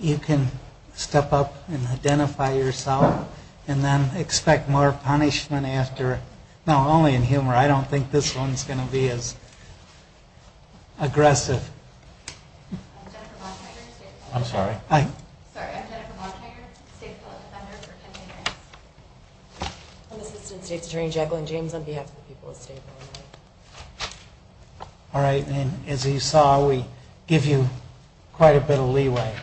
You can step up and identify yourself and then expect more punishment after, no, only in humor. I don't think this one's going to be as aggressive. I'm Jennifer Bontrager, State Department Defender for Kente Banks. I'm Assistant State's Attorney Jacqueline James on behalf of the people of State. Alright, and as you saw, we give you quite a bit of leeway.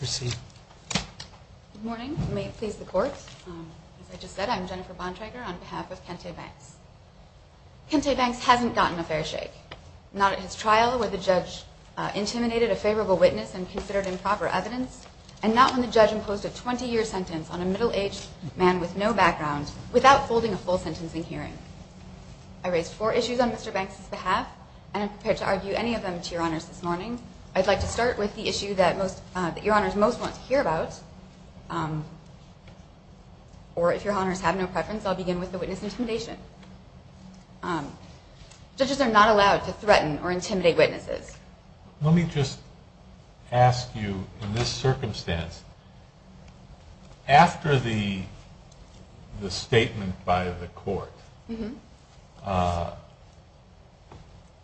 Good morning. May it please the Court. As I just said, I'm Jennifer Bontrager on behalf of Kente Banks. Kente Banks hasn't gotten a fair shake, not at his trial where the judge intimidated a favorable witness and considered improper evidence, and not when the judge imposed a 20-year sentence on a middle-aged man with no background without folding a full sentencing hearing. I raised four issues on Mr. Banks' behalf, and I'm prepared to argue any of them to Your Honors this morning. I'd like to start with the issue that Your Honors most want to hear about. Or if Your Honors have no preference, I'll begin with the witness intimidation. Judges are not allowed to threaten or intimidate witnesses. Let me just ask you, in this circumstance, after the statement by the court,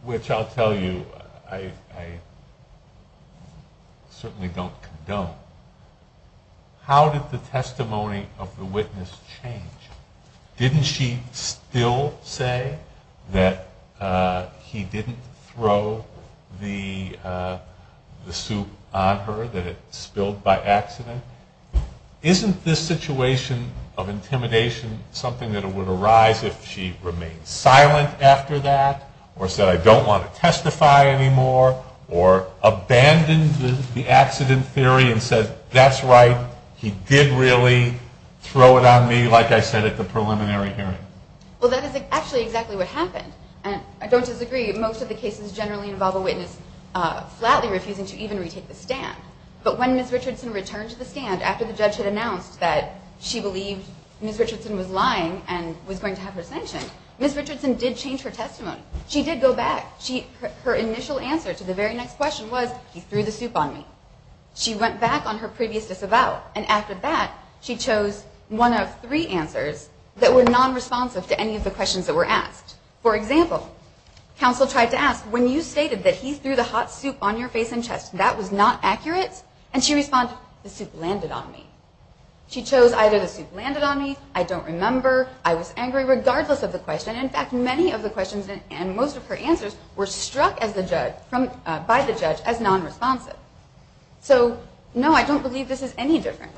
which I'll tell you I certainly don't condone, how did the testimony of the witness change? Didn't she still say that he didn't throw the soup on her, that it spilled by accident? Isn't this situation of intimidation something that would arise if she remained silent after that, or said, I don't want to testify anymore, or abandoned the accident theory and said, that's right, he did really throw it on me, like I said at the preliminary hearing? Well, that is actually exactly what happened. And I don't disagree. Most of the cases generally involve a witness flatly refusing to even retake the stand. But when Ms. Richardson returned to the stand after the judge had announced that she believed Ms. Richardson was lying and was going to have her sanctioned, Ms. Richardson did change her testimony. She did go back. Her initial answer to the very next question was, he threw the soup on me. She went back on her previous disavowal. And after that, she chose one of three answers that were nonresponsive to any of the questions that were asked. For example, counsel tried to ask, when you stated that he threw the hot soup on your face and chest, that was not accurate? And she responded, the soup landed on me. She chose either the soup landed on me, I don't remember, I was angry, regardless of the question. In fact, many of the questions and most of her answers were struck by the judge as nonresponsive. So, no, I don't believe this is any different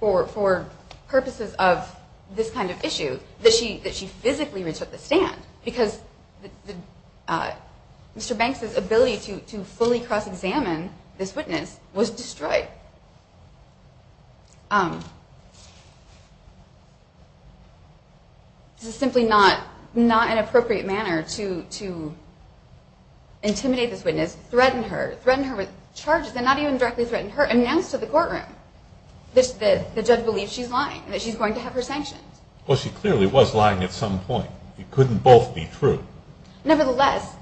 for purposes of this kind of issue that she physically retook the stand, because Mr. Banks' ability to fully cross-examine this witness was destroyed. This is simply not an appropriate manner to intimidate this witness, threaten her, threaten her with charges, and not even directly threaten her, announce to the courtroom that the judge believes she's lying, that she's going to have her sanctioned. Well, she clearly was lying at some point. It couldn't both be true. Nevertheless,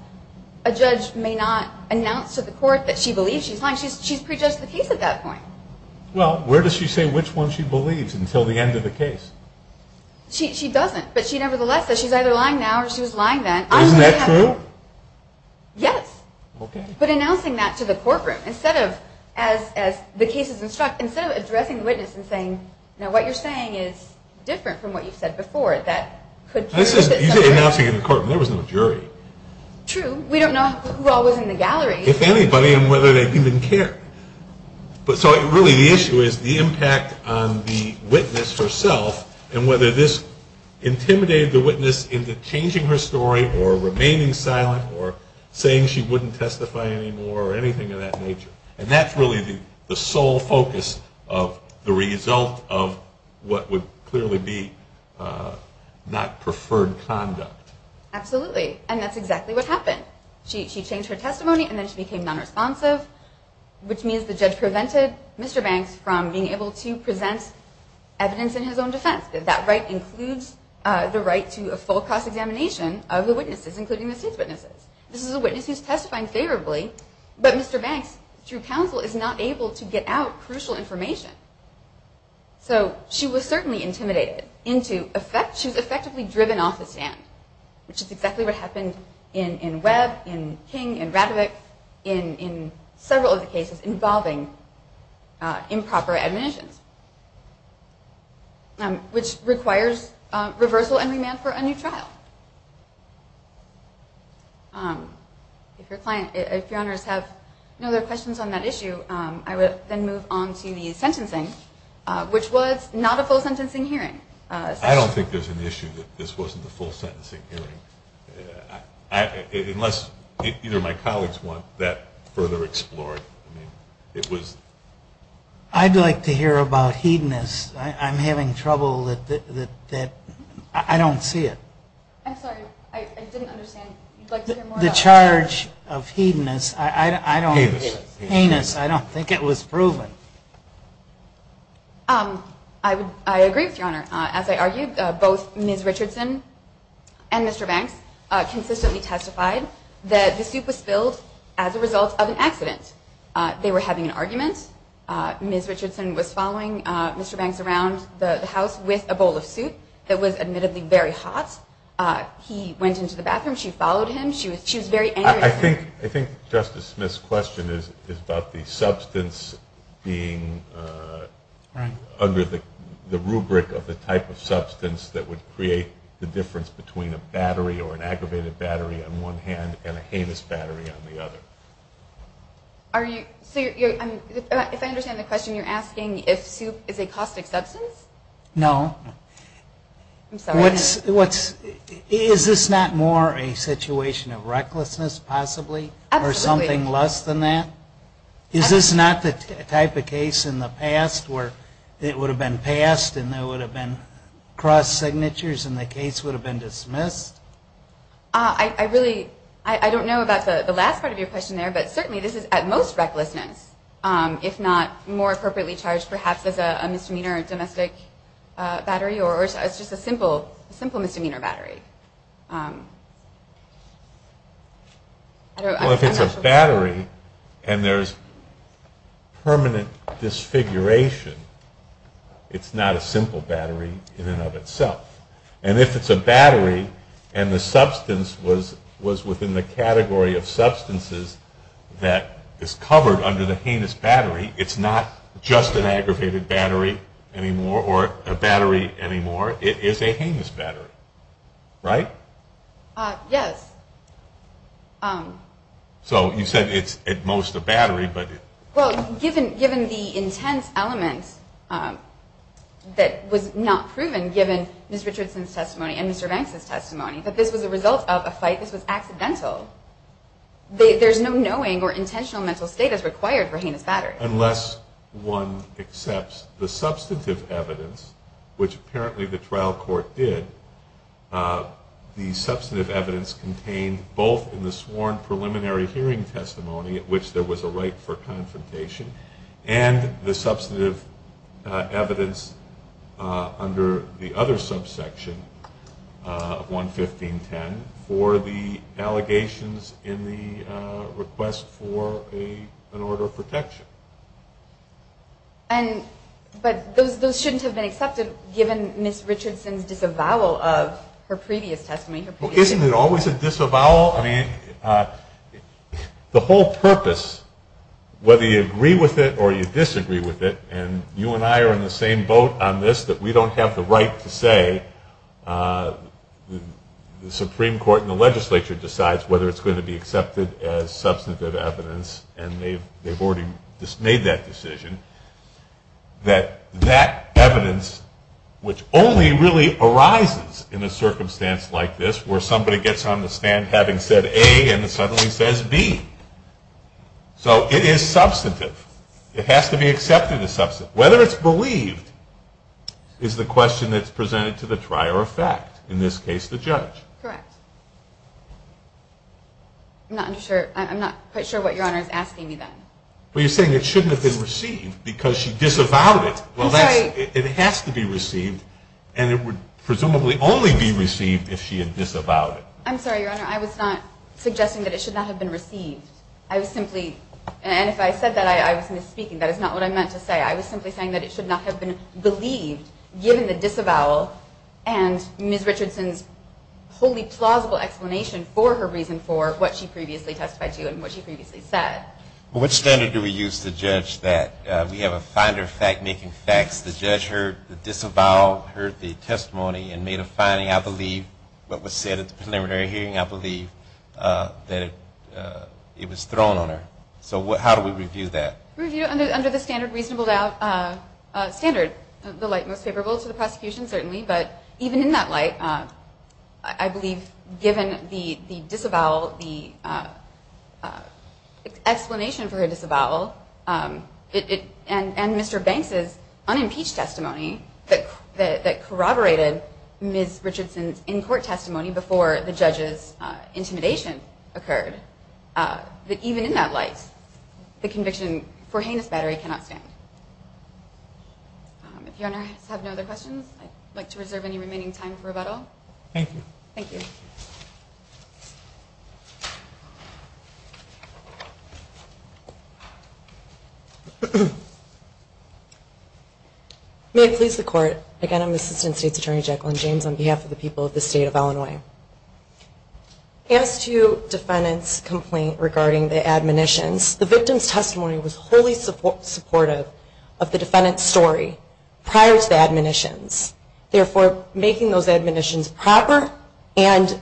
a judge may not announce to the court that she believes she's lying, she's prejudged the case at that point. Well, where does she say which one she believes until the end of the case? She doesn't, but she nevertheless says she's either lying now or she was lying then. Isn't that true? Yes. Okay. But announcing that to the courtroom, instead of, as the case is instructed, instead of addressing the witness and saying, now what you're saying is different from what you've said before, that could be true. You said announcing in the courtroom. There was no jury. True. We don't know who all was in the gallery. If anybody and whether they even cared. So really the issue is the impact on the witness herself and whether this intimidated the witness into changing her story or remaining silent or saying she wouldn't testify anymore or anything of that nature. And that's really the sole focus of the result of what would clearly be not preferred conduct. Absolutely. And that's exactly what happened. She changed her testimony and then she became nonresponsive, which means the judge prevented Mr. Banks from being able to present evidence in his own defense. That right includes the right to a full cost examination of the witnesses, including the state's witnesses. This is a witness who's testifying favorably, but Mr. Banks through counsel is not able to get out crucial information. So she was certainly intimidated. She was effectively driven off the stand, which is exactly what happened in Webb, in King, in Radovich, in several of the cases involving improper admonitions, which requires reversal and remand for a new trial. If your honors have no other questions on that issue, I would then move on to the sentencing, which was not a full sentencing hearing. I don't think there's an issue that this wasn't a full sentencing hearing, unless either of my colleagues want that further explored. I'd like to hear about hedonists. I'm having trouble that I don't see it. I'm sorry, I didn't understand. The charge of hedonist, I don't think it was proven. I agree with your honor. As I argued, both Ms. Richardson and Mr. Banks consistently testified that the soup was spilled as a result of an accident. They were having an argument. Ms. Richardson was following Mr. Banks around the house with a bowl of soup that was admittedly very hot. He went into the bathroom. She followed him. She was very angry. I think Justice Smith's question is about the substance being under the rubric of the type of substance that would create the difference between a battery or an aggravated battery on one hand and a heinous battery on the other. If I understand the question, you're asking if soup is a caustic substance? No. I'm sorry. Is this not more a situation of recklessness possibly or something less than that? Is this not the type of case in the past where it would have been passed and there would have been cross signatures and the case would have been dismissed? I don't know about the last part of your question there, but certainly this is at most recklessness, if not more appropriately charged perhaps as a misdemeanor domestic battery or as just a simple misdemeanor battery. If it's a battery and there's permanent disfiguration, it's not a simple battery in and of itself. And if it's a battery and the substance was within the category of substances that is covered under the heinous battery, it's not just an aggravated battery anymore or a battery anymore. It is a heinous battery. Right? Yes. So you said it's at most a battery. Well, given the intense element that was not proven given Ms. Richardson's testimony and Mr. Banks' testimony that this was a result of a fight, this was accidental. There's no knowing or intentional mental state that's required for heinous batteries. Unless one accepts the substantive evidence, which apparently the trial court did, the substantive evidence contained both in the sworn preliminary hearing testimony at which there was a right for confrontation and the substantive evidence under the other subsection 115.10 for the allegations in the request for an order of protection. But those shouldn't have been accepted given Ms. Richardson's disavowal of her previous testimony. Isn't it always a disavowal? I mean, the whole purpose, whether you agree with it or you disagree with it, and you and I are in the same boat on this that we don't have the right to say the Supreme Court and the legislature decides whether it's going to be accepted as substantive evidence, and they've already made that decision, that that evidence, which only really arises in a circumstance like this where somebody gets on the stand having said A and suddenly says B. So it is substantive. It has to be accepted as substantive. Whether it's believed is the question that's presented to the trier of fact, in this case the judge. Correct. I'm not quite sure what Your Honor is asking me then. Well, you're saying it shouldn't have been received because she disavowed it. I'm sorry. Well, it has to be received, and it would presumably only be received if she had disavowed it. I'm sorry, Your Honor. I was not suggesting that it should not have been received. And if I said that, I was misspeaking. That is not what I meant to say. I was simply saying that it should not have been believed given the disavowal and Ms. Richardson's wholly plausible explanation for her reason for what she previously testified to and what she previously said. Well, what standard do we use to judge that? We have a finder of fact-making facts. The judge heard the disavowal, heard the testimony, and made a finding, I believe, that it was thrown on her. So how do we review that? Review under the standard reasonable doubt standard, the light most favorable to the prosecution, certainly. But even in that light, I believe given the disavowal, the explanation for her disavowal, and Mr. Banks's unimpeached testimony that corroborated Ms. Richardson's in-court testimony before the judge's intimidation occurred, that even in that light, the conviction for heinous battery cannot stand. If your Honor has no other questions, I'd like to reserve any remaining time for rebuttal. Thank you. Thank you. May it please the Court, again, I'm Assistant State's Attorney Jacqueline James on behalf of the people of the State of Illinois. As to defendant's complaint regarding the admonitions, the victim's testimony was wholly supportive of the defendant's story prior to the admonitions, therefore making those admonitions proper and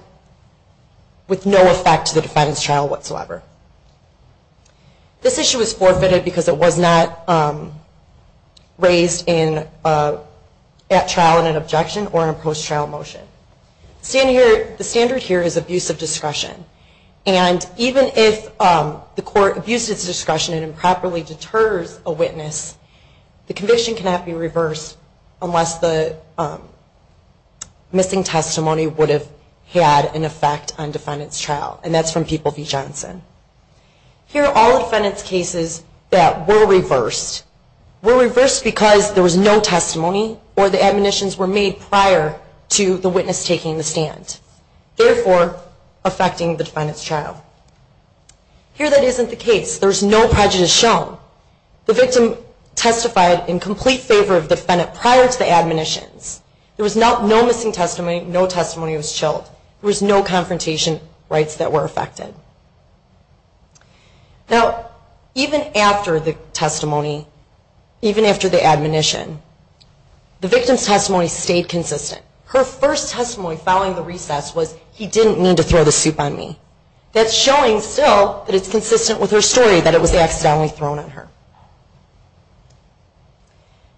with no effect to the defendant's trial whatsoever. This issue was forfeited because it was not raised at trial in an objection or in a post-trial motion. The standard here is abuse of discretion. And even if the court abuses discretion and improperly deters a witness, the conviction cannot be reversed unless the missing testimony would have had an effect on the defendant's trial. And that's from People v. Johnson. Here are all defendant's cases that were reversed. Were reversed because there was no testimony or the admonitions were made prior to the witness taking the stand, therefore affecting the defendant's trial. Here that isn't the case. There's no prejudice shown. The victim testified in complete favor of the defendant prior to the admonitions. There was no missing testimony. No testimony was chilled. There was no confrontation rights that were affected. Now, even after the testimony, even after the admonition, the victim's testimony stayed consistent. Her first testimony following the recess was, he didn't mean to throw the soup on me. That's showing still that it's consistent with her story, that it was accidentally thrown on her.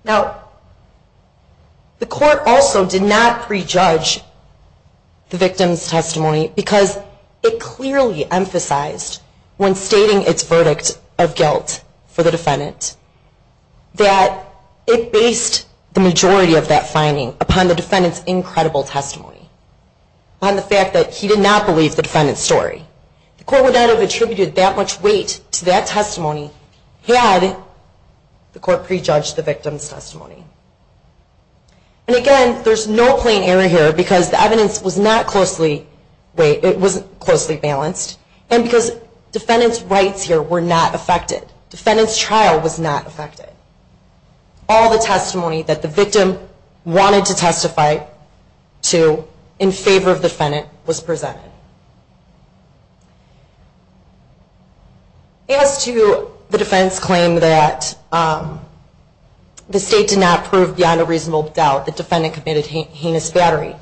Now, the court also did not prejudge the victim's testimony because it clearly emphasized when stating its verdict of guilt for the defendant that it based the majority of that finding upon the defendant's incredible testimony, on the fact that he did not believe the defendant's story. The court would not have attributed that much weight to that testimony had the court prejudged the victim's testimony. And again, there's no plain error here because the evidence was not closely balanced and because defendant's rights here were not affected. Defendant's trial was not affected. All the testimony that the victim wanted to testify to in favor of the defendant was presented. As to the defense claim that the state did not prove beyond a reasonable doubt the defendant committed heinous battery,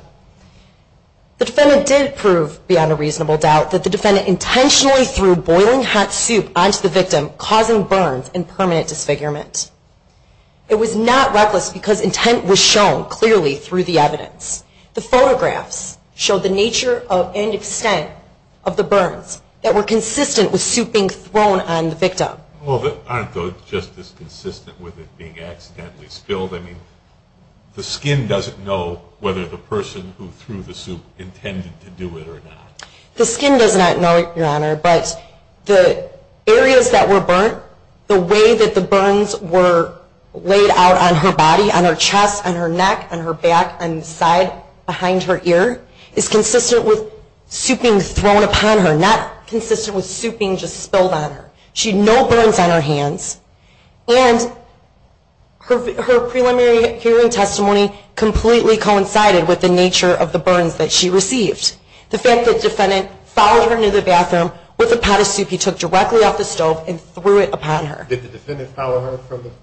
the defendant did prove beyond a reasonable doubt that the defendant intentionally threw boiling hot soup onto the victim, causing burns and permanent disfigurement. It was not reckless because intent was shown clearly through the evidence. The photographs showed the nature and extent of the burns that were consistent with soup being thrown on the victim. Well, aren't those just as consistent with it being accidentally spilled? I mean, the skin doesn't know whether the person who threw the soup intended to do it or not. The skin does not know, Your Honor, but the areas that were burnt, the way that the burns were laid out on her body, on her chest, on her neck, on her back, on the side, behind her ear, is consistent with soup being thrown upon her, not consistent with soup being just spilled on her. She had no burns on her hands, and her preliminary hearing testimony completely coincided with the nature of the burns that she received. The fact that the defendant followed her into the bathroom with a pot of soup he took directly off the stove and threw it upon her. Did the defendant follow her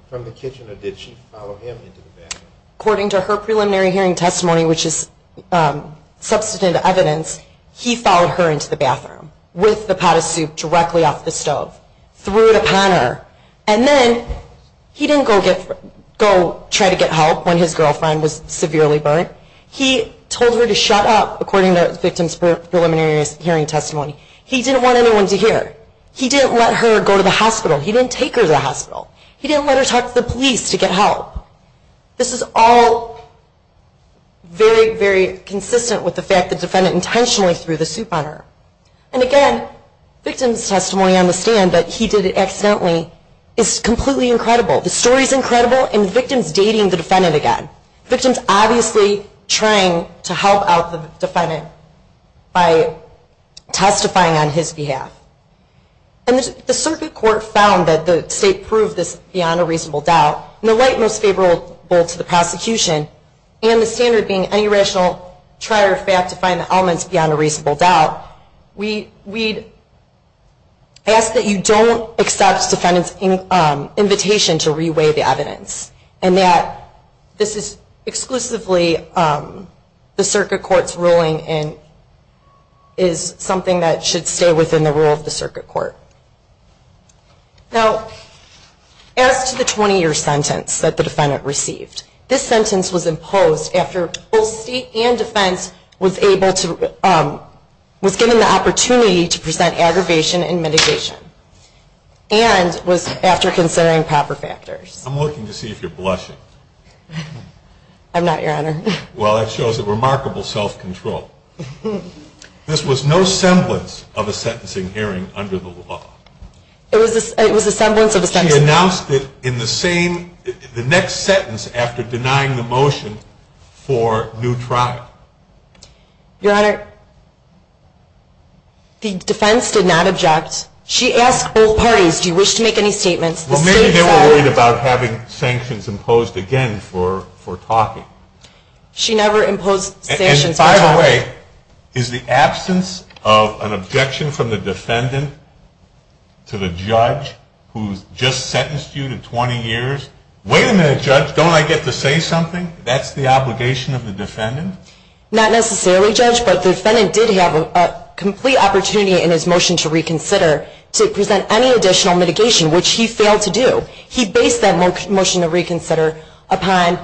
from the kitchen, or did she follow him into the bathroom? According to her preliminary hearing testimony, which is substantive evidence, he followed her into the bathroom with the pot of soup directly off the stove, threw it upon her. And then he didn't go try to get help when his girlfriend was severely burnt. He told her to shut up, according to the victim's preliminary hearing testimony. He didn't want anyone to hear. He didn't let her go to the hospital. He didn't take her to the hospital. He didn't let her talk to the police to get help. This is all very, very consistent with the fact that the defendant intentionally threw the soup on her. And again, the victim's testimony on the stand that he did it accidentally is completely incredible. The story is incredible, and the victim is dating the defendant again. Victim's obviously trying to help out the defendant by testifying on his behalf. And the circuit court found that the state proved this beyond a reasonable doubt. In the light most favorable to the prosecution, and the standard being any rational try or fact to find the elements beyond a reasonable doubt, we'd ask that you don't accept the defendant's invitation to re-weigh the evidence, and that this is exclusively the circuit court's ruling and is something that should stay within the rule of the circuit court. Now, as to the 20-year sentence that the defendant received, this sentence was imposed after both state and defense was given the opportunity to present aggravation and mitigation and was after considering proper factors. I'm looking to see if you're blushing. I'm not, Your Honor. Well, that shows a remarkable self-control. This was no semblance of a sentencing hearing under the law. It was a semblance of a sentencing hearing. She announced it in the next sentence after denying the motion for new trial. Your Honor, the defense did not object. She asked both parties, do you wish to make any statements. Well, maybe they were worried about having sanctions imposed again for talking. She never imposed sanctions. By the way, is the absence of an objection from the defendant to the judge, who's just sentenced you to 20 years, wait a minute, judge, don't I get to say something? That's the obligation of the defendant? Not necessarily, judge, but the defendant did have a complete opportunity in his motion to reconsider to present any additional mitigation, which he failed to do. He based that motion to reconsider upon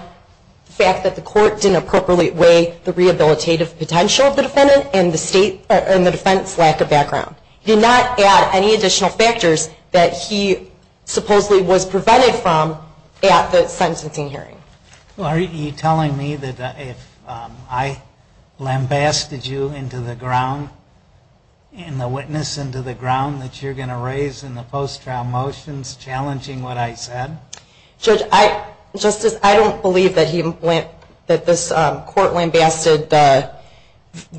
the fact that the court didn't appropriately weigh the rehabilitative potential of the defendant and the defense lack of background. He did not add any additional factors that he supposedly was prevented from at the sentencing hearing. Well, are you telling me that if I lambasted you into the ground, and the witness into the ground, that you're going to raise in the post-trial motions challenging what I said? Judge, I don't believe that this court lambasted the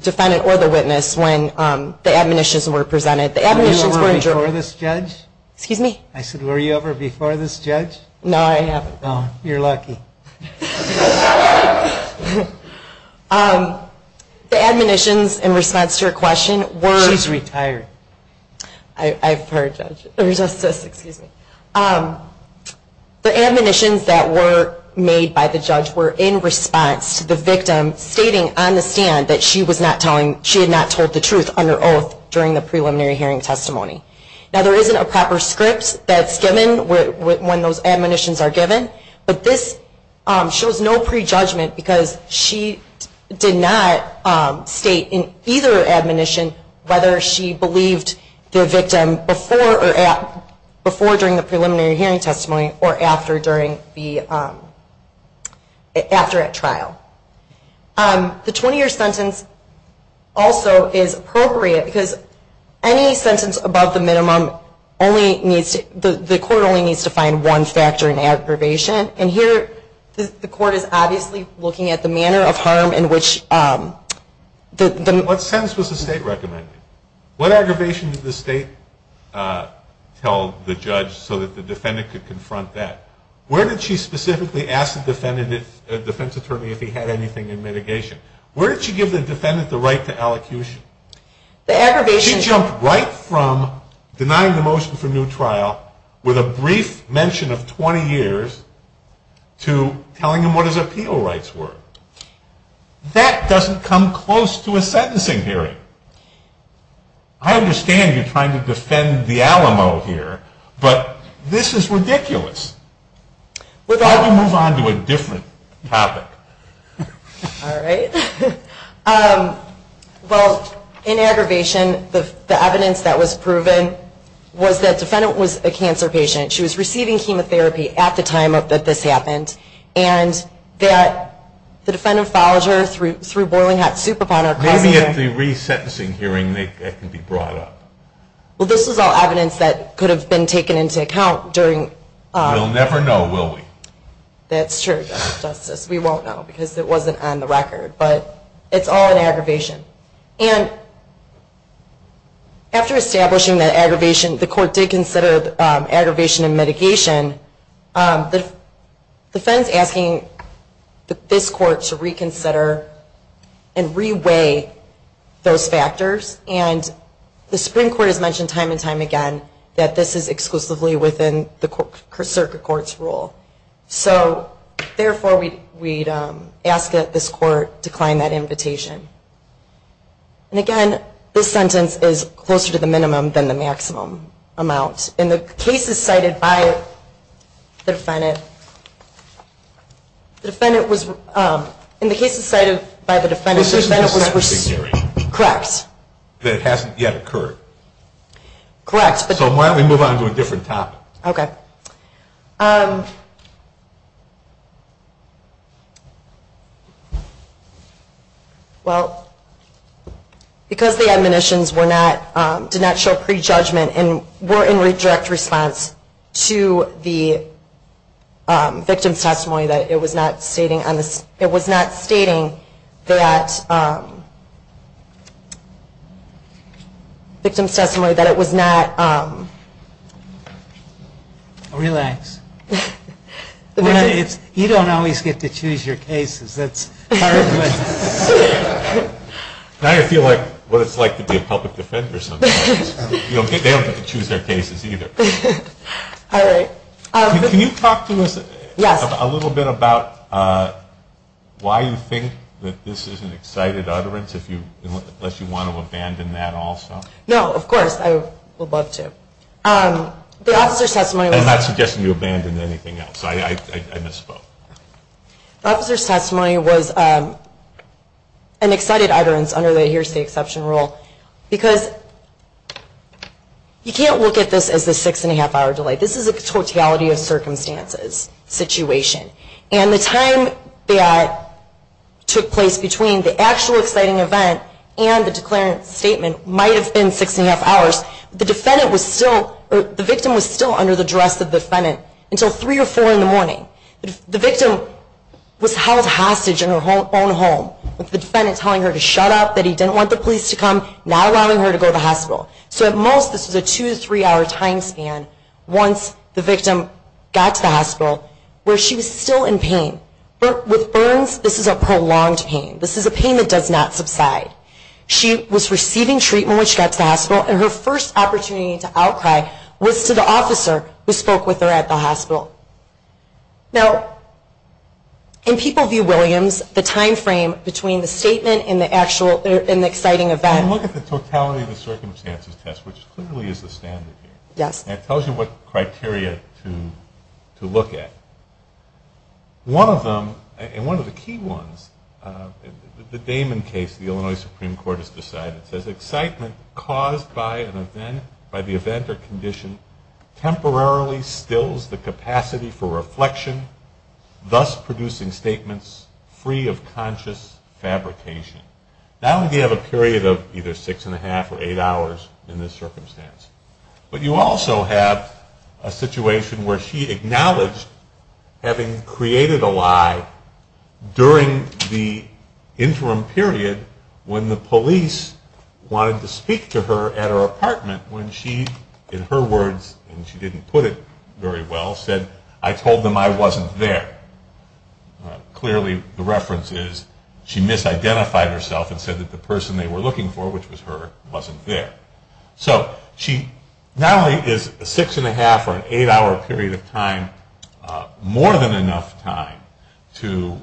defendant or the witness when the admonitions were presented. The admonitions were adjourned. Were you ever before this judge? Excuse me? I said, were you ever before this judge? No, I haven't. Oh, you're lucky. The admonitions in response to your question were... She's retired. I've heard that. The admonitions that were made by the judge were in response to the victim stating on the stand that she had not told the truth on her oath during the preliminary hearing testimony. Now, there isn't a proper script that's given when those admonitions are given, but this shows no prejudgment because she did not state in either admonition whether she believed the victim before during the preliminary hearing testimony or after at trial. The 20-year sentence also is appropriate because any sentence above the minimum, the court only needs to find one factor in aggravation, and here the court is obviously looking at the manner of harm in which the... What sentence was the state recommending? What aggravation did the state tell the judge so that the defendant could confront that? Where did she specifically ask the defense attorney if he had anything in mitigation? Where did she give the defendant the right to allocution? The aggravation... She jumped right from denying the motion for new trial with a brief mention of 20 years to telling him what his appeal rights were. That doesn't come close to a sentencing hearing. I understand you're trying to defend the Alamo here, but this is ridiculous. Why don't we move on to a different topic? All right. Well, in aggravation, the evidence that was proven was that the defendant was a cancer patient. She was receiving chemotherapy at the time that this happened, and that the defendant followed her through boiling hot soup upon her... Maybe at the resentencing hearing that can be brought up. Well, this is all evidence that could have been taken into account during... We'll never know, will we? That's true, Justice. We won't know because it wasn't on the record, but it's all in aggravation. And after establishing that aggravation, the court did consider aggravation in mitigation. The defense is asking this court to reconsider and re-weigh those factors, and the Supreme Court has mentioned time and time again that this is exclusively within the circuit court's rule. So therefore, we'd ask that this court decline that invitation. And again, this sentence is closer to the minimum than the maximum amount. In the cases cited by the defendant, the defendant was... In the cases cited by the defendant, the defendant was... This isn't a secondary. Correct. That it hasn't yet occurred. Correct, but... So why don't we move on to a different topic? Okay. Well, because the admonitions did not show prejudgment and were in direct response to the victim's testimony, that it was not stating on the... It was not stating that... Victim's testimony, that it was not... Relax. You don't always get to choose your cases. That's part of it. Now I feel like what it's like to be a public defender sometimes. They don't get to choose their cases either. All right. Can you talk to us a little bit about why you think that this is an excited utterance, unless you want to abandon that also? No, of course. I would love to. The officer's testimony was... I'm not suggesting you abandon anything else. I misspoke. The officer's testimony was an excited utterance under the here's the exception rule, because you can't look at this as a six-and-a-half-hour delay. This is a totality of circumstances situation. And the time that took place between the actual exciting event and the declarant's statement might have been six-and-a-half hours, but the victim was still under the duress of the defendant until three or four in the morning. The victim was held hostage in her own home, with the defendant telling her to shut up, that he didn't want the police to come, not allowing her to go to the hospital. So at most, this was a two- to three-hour time span once the victim got to the hospital, where she was still in pain. With burns, this is a prolonged pain. This is a pain that does not subside. She was receiving treatment when she got to the hospital, and her first opportunity to outcry was to the officer who spoke with her at the hospital. Now, in people view Williams, the time frame between the statement and the exciting event... When you look at the totality of the circumstances test, which clearly is the standard here, it tells you what criteria to look at. One of them, and one of the key ones, the Damon case the Illinois Supreme Court has decided, says excitement caused by the event or condition temporarily stills the capacity for reflection, thus producing statements free of conscious fabrication. Not only do you have a period of either six and a half or eight hours in this circumstance, but you also have a situation where she acknowledged having created a lie during the interim period when the police wanted to speak to her at her apartment when she, in her words, and she didn't put it very well, said, I told them I wasn't there. Clearly the reference is she misidentified herself and said that the person they were looking for, which was her, wasn't there. So she not only is a six and a half or an eight hour period of time more than enough time to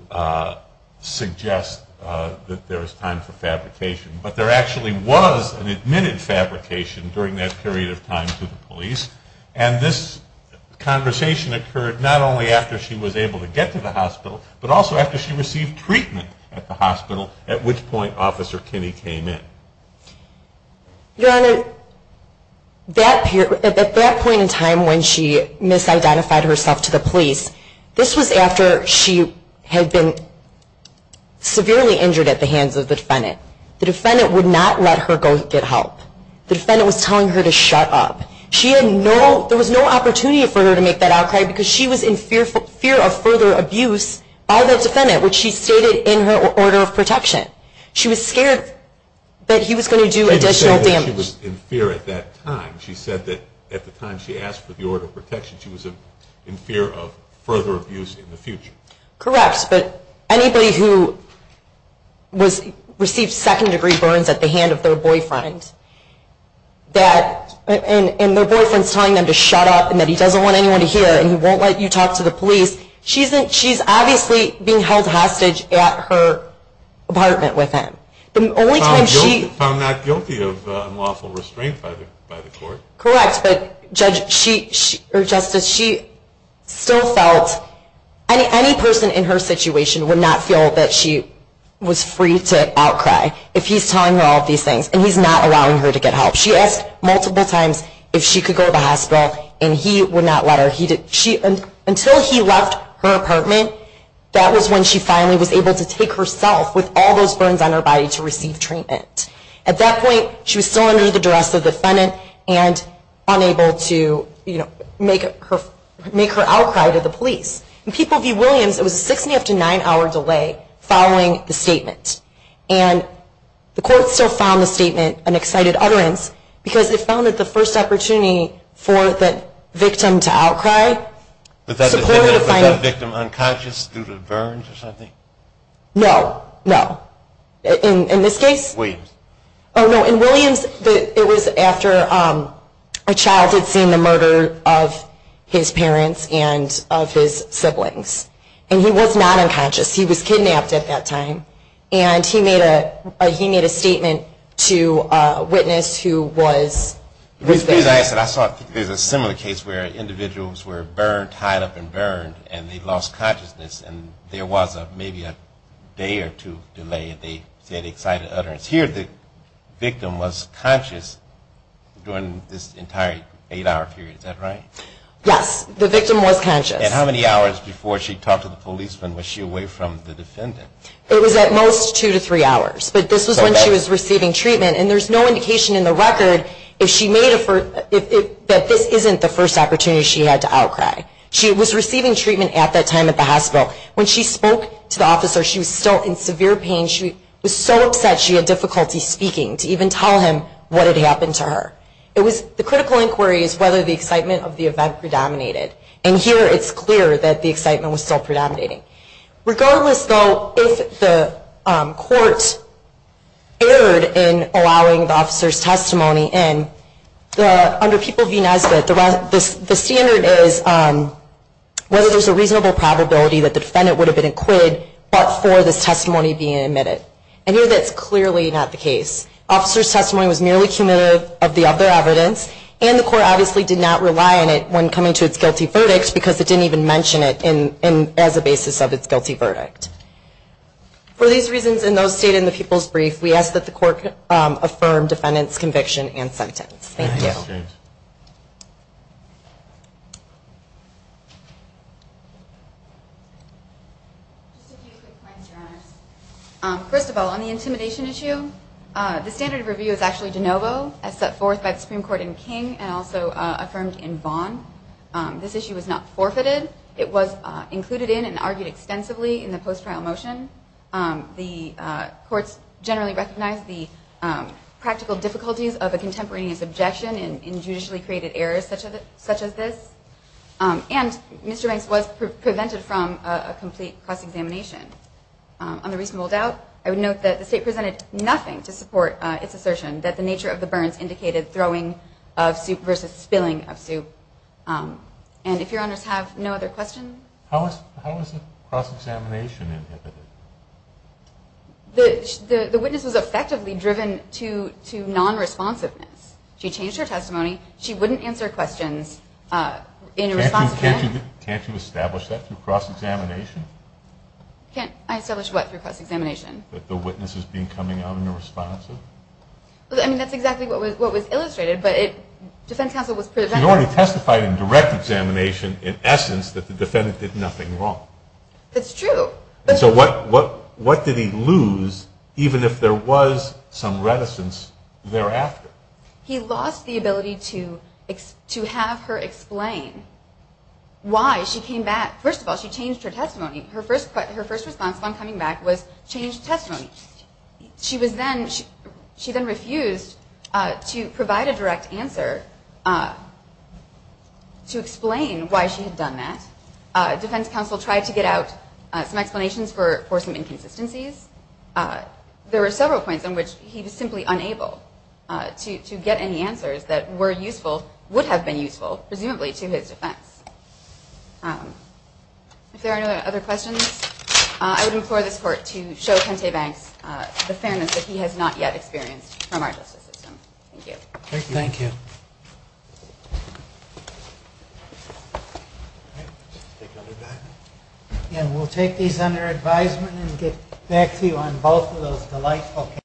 suggest that there is time for fabrication, but there actually was an admitted fabrication during that period of time to the police, and this conversation occurred not only after she was able to get to the hospital, but also after she received treatment at the hospital, at which point Officer Kinney came in. Your Honor, at that point in time when she misidentified herself to the police, this was after she had been severely injured at the hands of the defendant. The defendant would not let her go get help. The defendant was telling her to shut up. She had no, there was no opportunity for her to make that outcry because she was in fear of further abuse by the defendant, which she stated in her order of protection. She was scared that he was going to do additional damage. She didn't say that she was in fear at that time. She said that at the time she asked for the order of protection, she was in fear of further abuse in the future. Correct, but anybody who received second degree burns at the hand of their boyfriend, and their boyfriend's telling them to shut up and that he doesn't want anyone to hear and he won't let you talk to the police, she's obviously being held hostage at her apartment with him. She was found not guilty of unlawful restraint by the court. Correct, but, Judge, or Justice, she still felt any person in her situation would not feel that she was free to outcry if he's telling her all these things and he's not allowing her to get help. She asked multiple times if she could go to the hospital, and he would not let her. Until he left her apartment, that was when she finally was able to take herself with all those burns on her body to receive treatment. At that point, she was still under the duress of the defendant and unable to make her outcry to the police. In People v. Williams, it was a six and a half to nine hour delay following the statement. And the court still found the statement an excited utterance because it found it the first opportunity for the victim to outcry. Was that victim unconscious due to the burns or something? No, no. In this case? Williams. Oh, no. In Williams, it was after a child had seen the murder of his parents and of his siblings. And he was not unconscious. He was kidnapped at that time. And he made a statement to a witness who was there. I saw there's a similar case where individuals were burned, tied up and burned, and they lost consciousness and there was maybe a day or two delay and they said excited utterance. Here the victim was conscious during this entire eight hour period. Is that right? Yes, the victim was conscious. And how many hours before she talked to the policeman was she away from the defendant? It was at most two to three hours. But this was when she was receiving treatment. And there's no indication in the record that this isn't the first opportunity she had to outcry. She was receiving treatment at that time at the hospital. When she spoke to the officer, she was still in severe pain. She was so upset she had difficulty speaking to even tell him what had happened to her. The critical inquiry is whether the excitement of the event predominated. And here it's clear that the excitement was still predominating. Regardless, though, if the court erred in allowing the officer's testimony in, under People v. Nesbitt the standard is whether there's a reasonable probability that the defendant would have been acquitted but for this testimony being admitted. And here that's clearly not the case. Officer's testimony was merely cumulative of the other evidence, and the court obviously did not rely on it when coming to its guilty verdict because it didn't even mention it as a basis of its guilty verdict. For these reasons and those stated in the People's Brief, we ask that the court affirm defendant's conviction and sentence. Thank you. First of all, on the intimidation issue, the standard of review is actually de novo, as set forth by the Supreme Court in King and also affirmed in Vaughan. This issue was not forfeited. It was included in and argued extensively in the post-trial motion. The courts generally recognize the practical difficulties of a contemporaneous objection in judicially created errors such as this. And Mr. Banks was prevented from a complete cross-examination. On the reasonable doubt, I would note that the State presented nothing to support its assertion that the nature of the burns indicated throwing of soup versus spilling of soup. And if Your Honors have no other questions? How was the cross-examination inhibited? The witness was effectively driven to non-responsiveness. She changed her testimony. She wouldn't answer questions in response to them. Can't you establish that through cross-examination? Can't I establish what through cross-examination? That the witness is becoming non-responsive. I mean, that's exactly what was illustrated, but defense counsel was prevented. She already testified in direct examination, in essence, that the defendant did nothing wrong. That's true. So what did he lose, even if there was some reticence thereafter? He lost the ability to have her explain why she came back. First of all, she changed her testimony. Her first response upon coming back was change testimony. She then refused to provide a direct answer to explain why she had done that. Defense counsel tried to get out some explanations for some inconsistencies. There were several points in which he was simply unable to get any answers that were useful, would have been useful, presumably to his defense. If there are no other questions, I would implore this Court to show Kente Banks the fairness that he has not yet experienced from our justice system. Thank you. Thank you. We'll take these under advisement and get back to you on both of those delightful cases.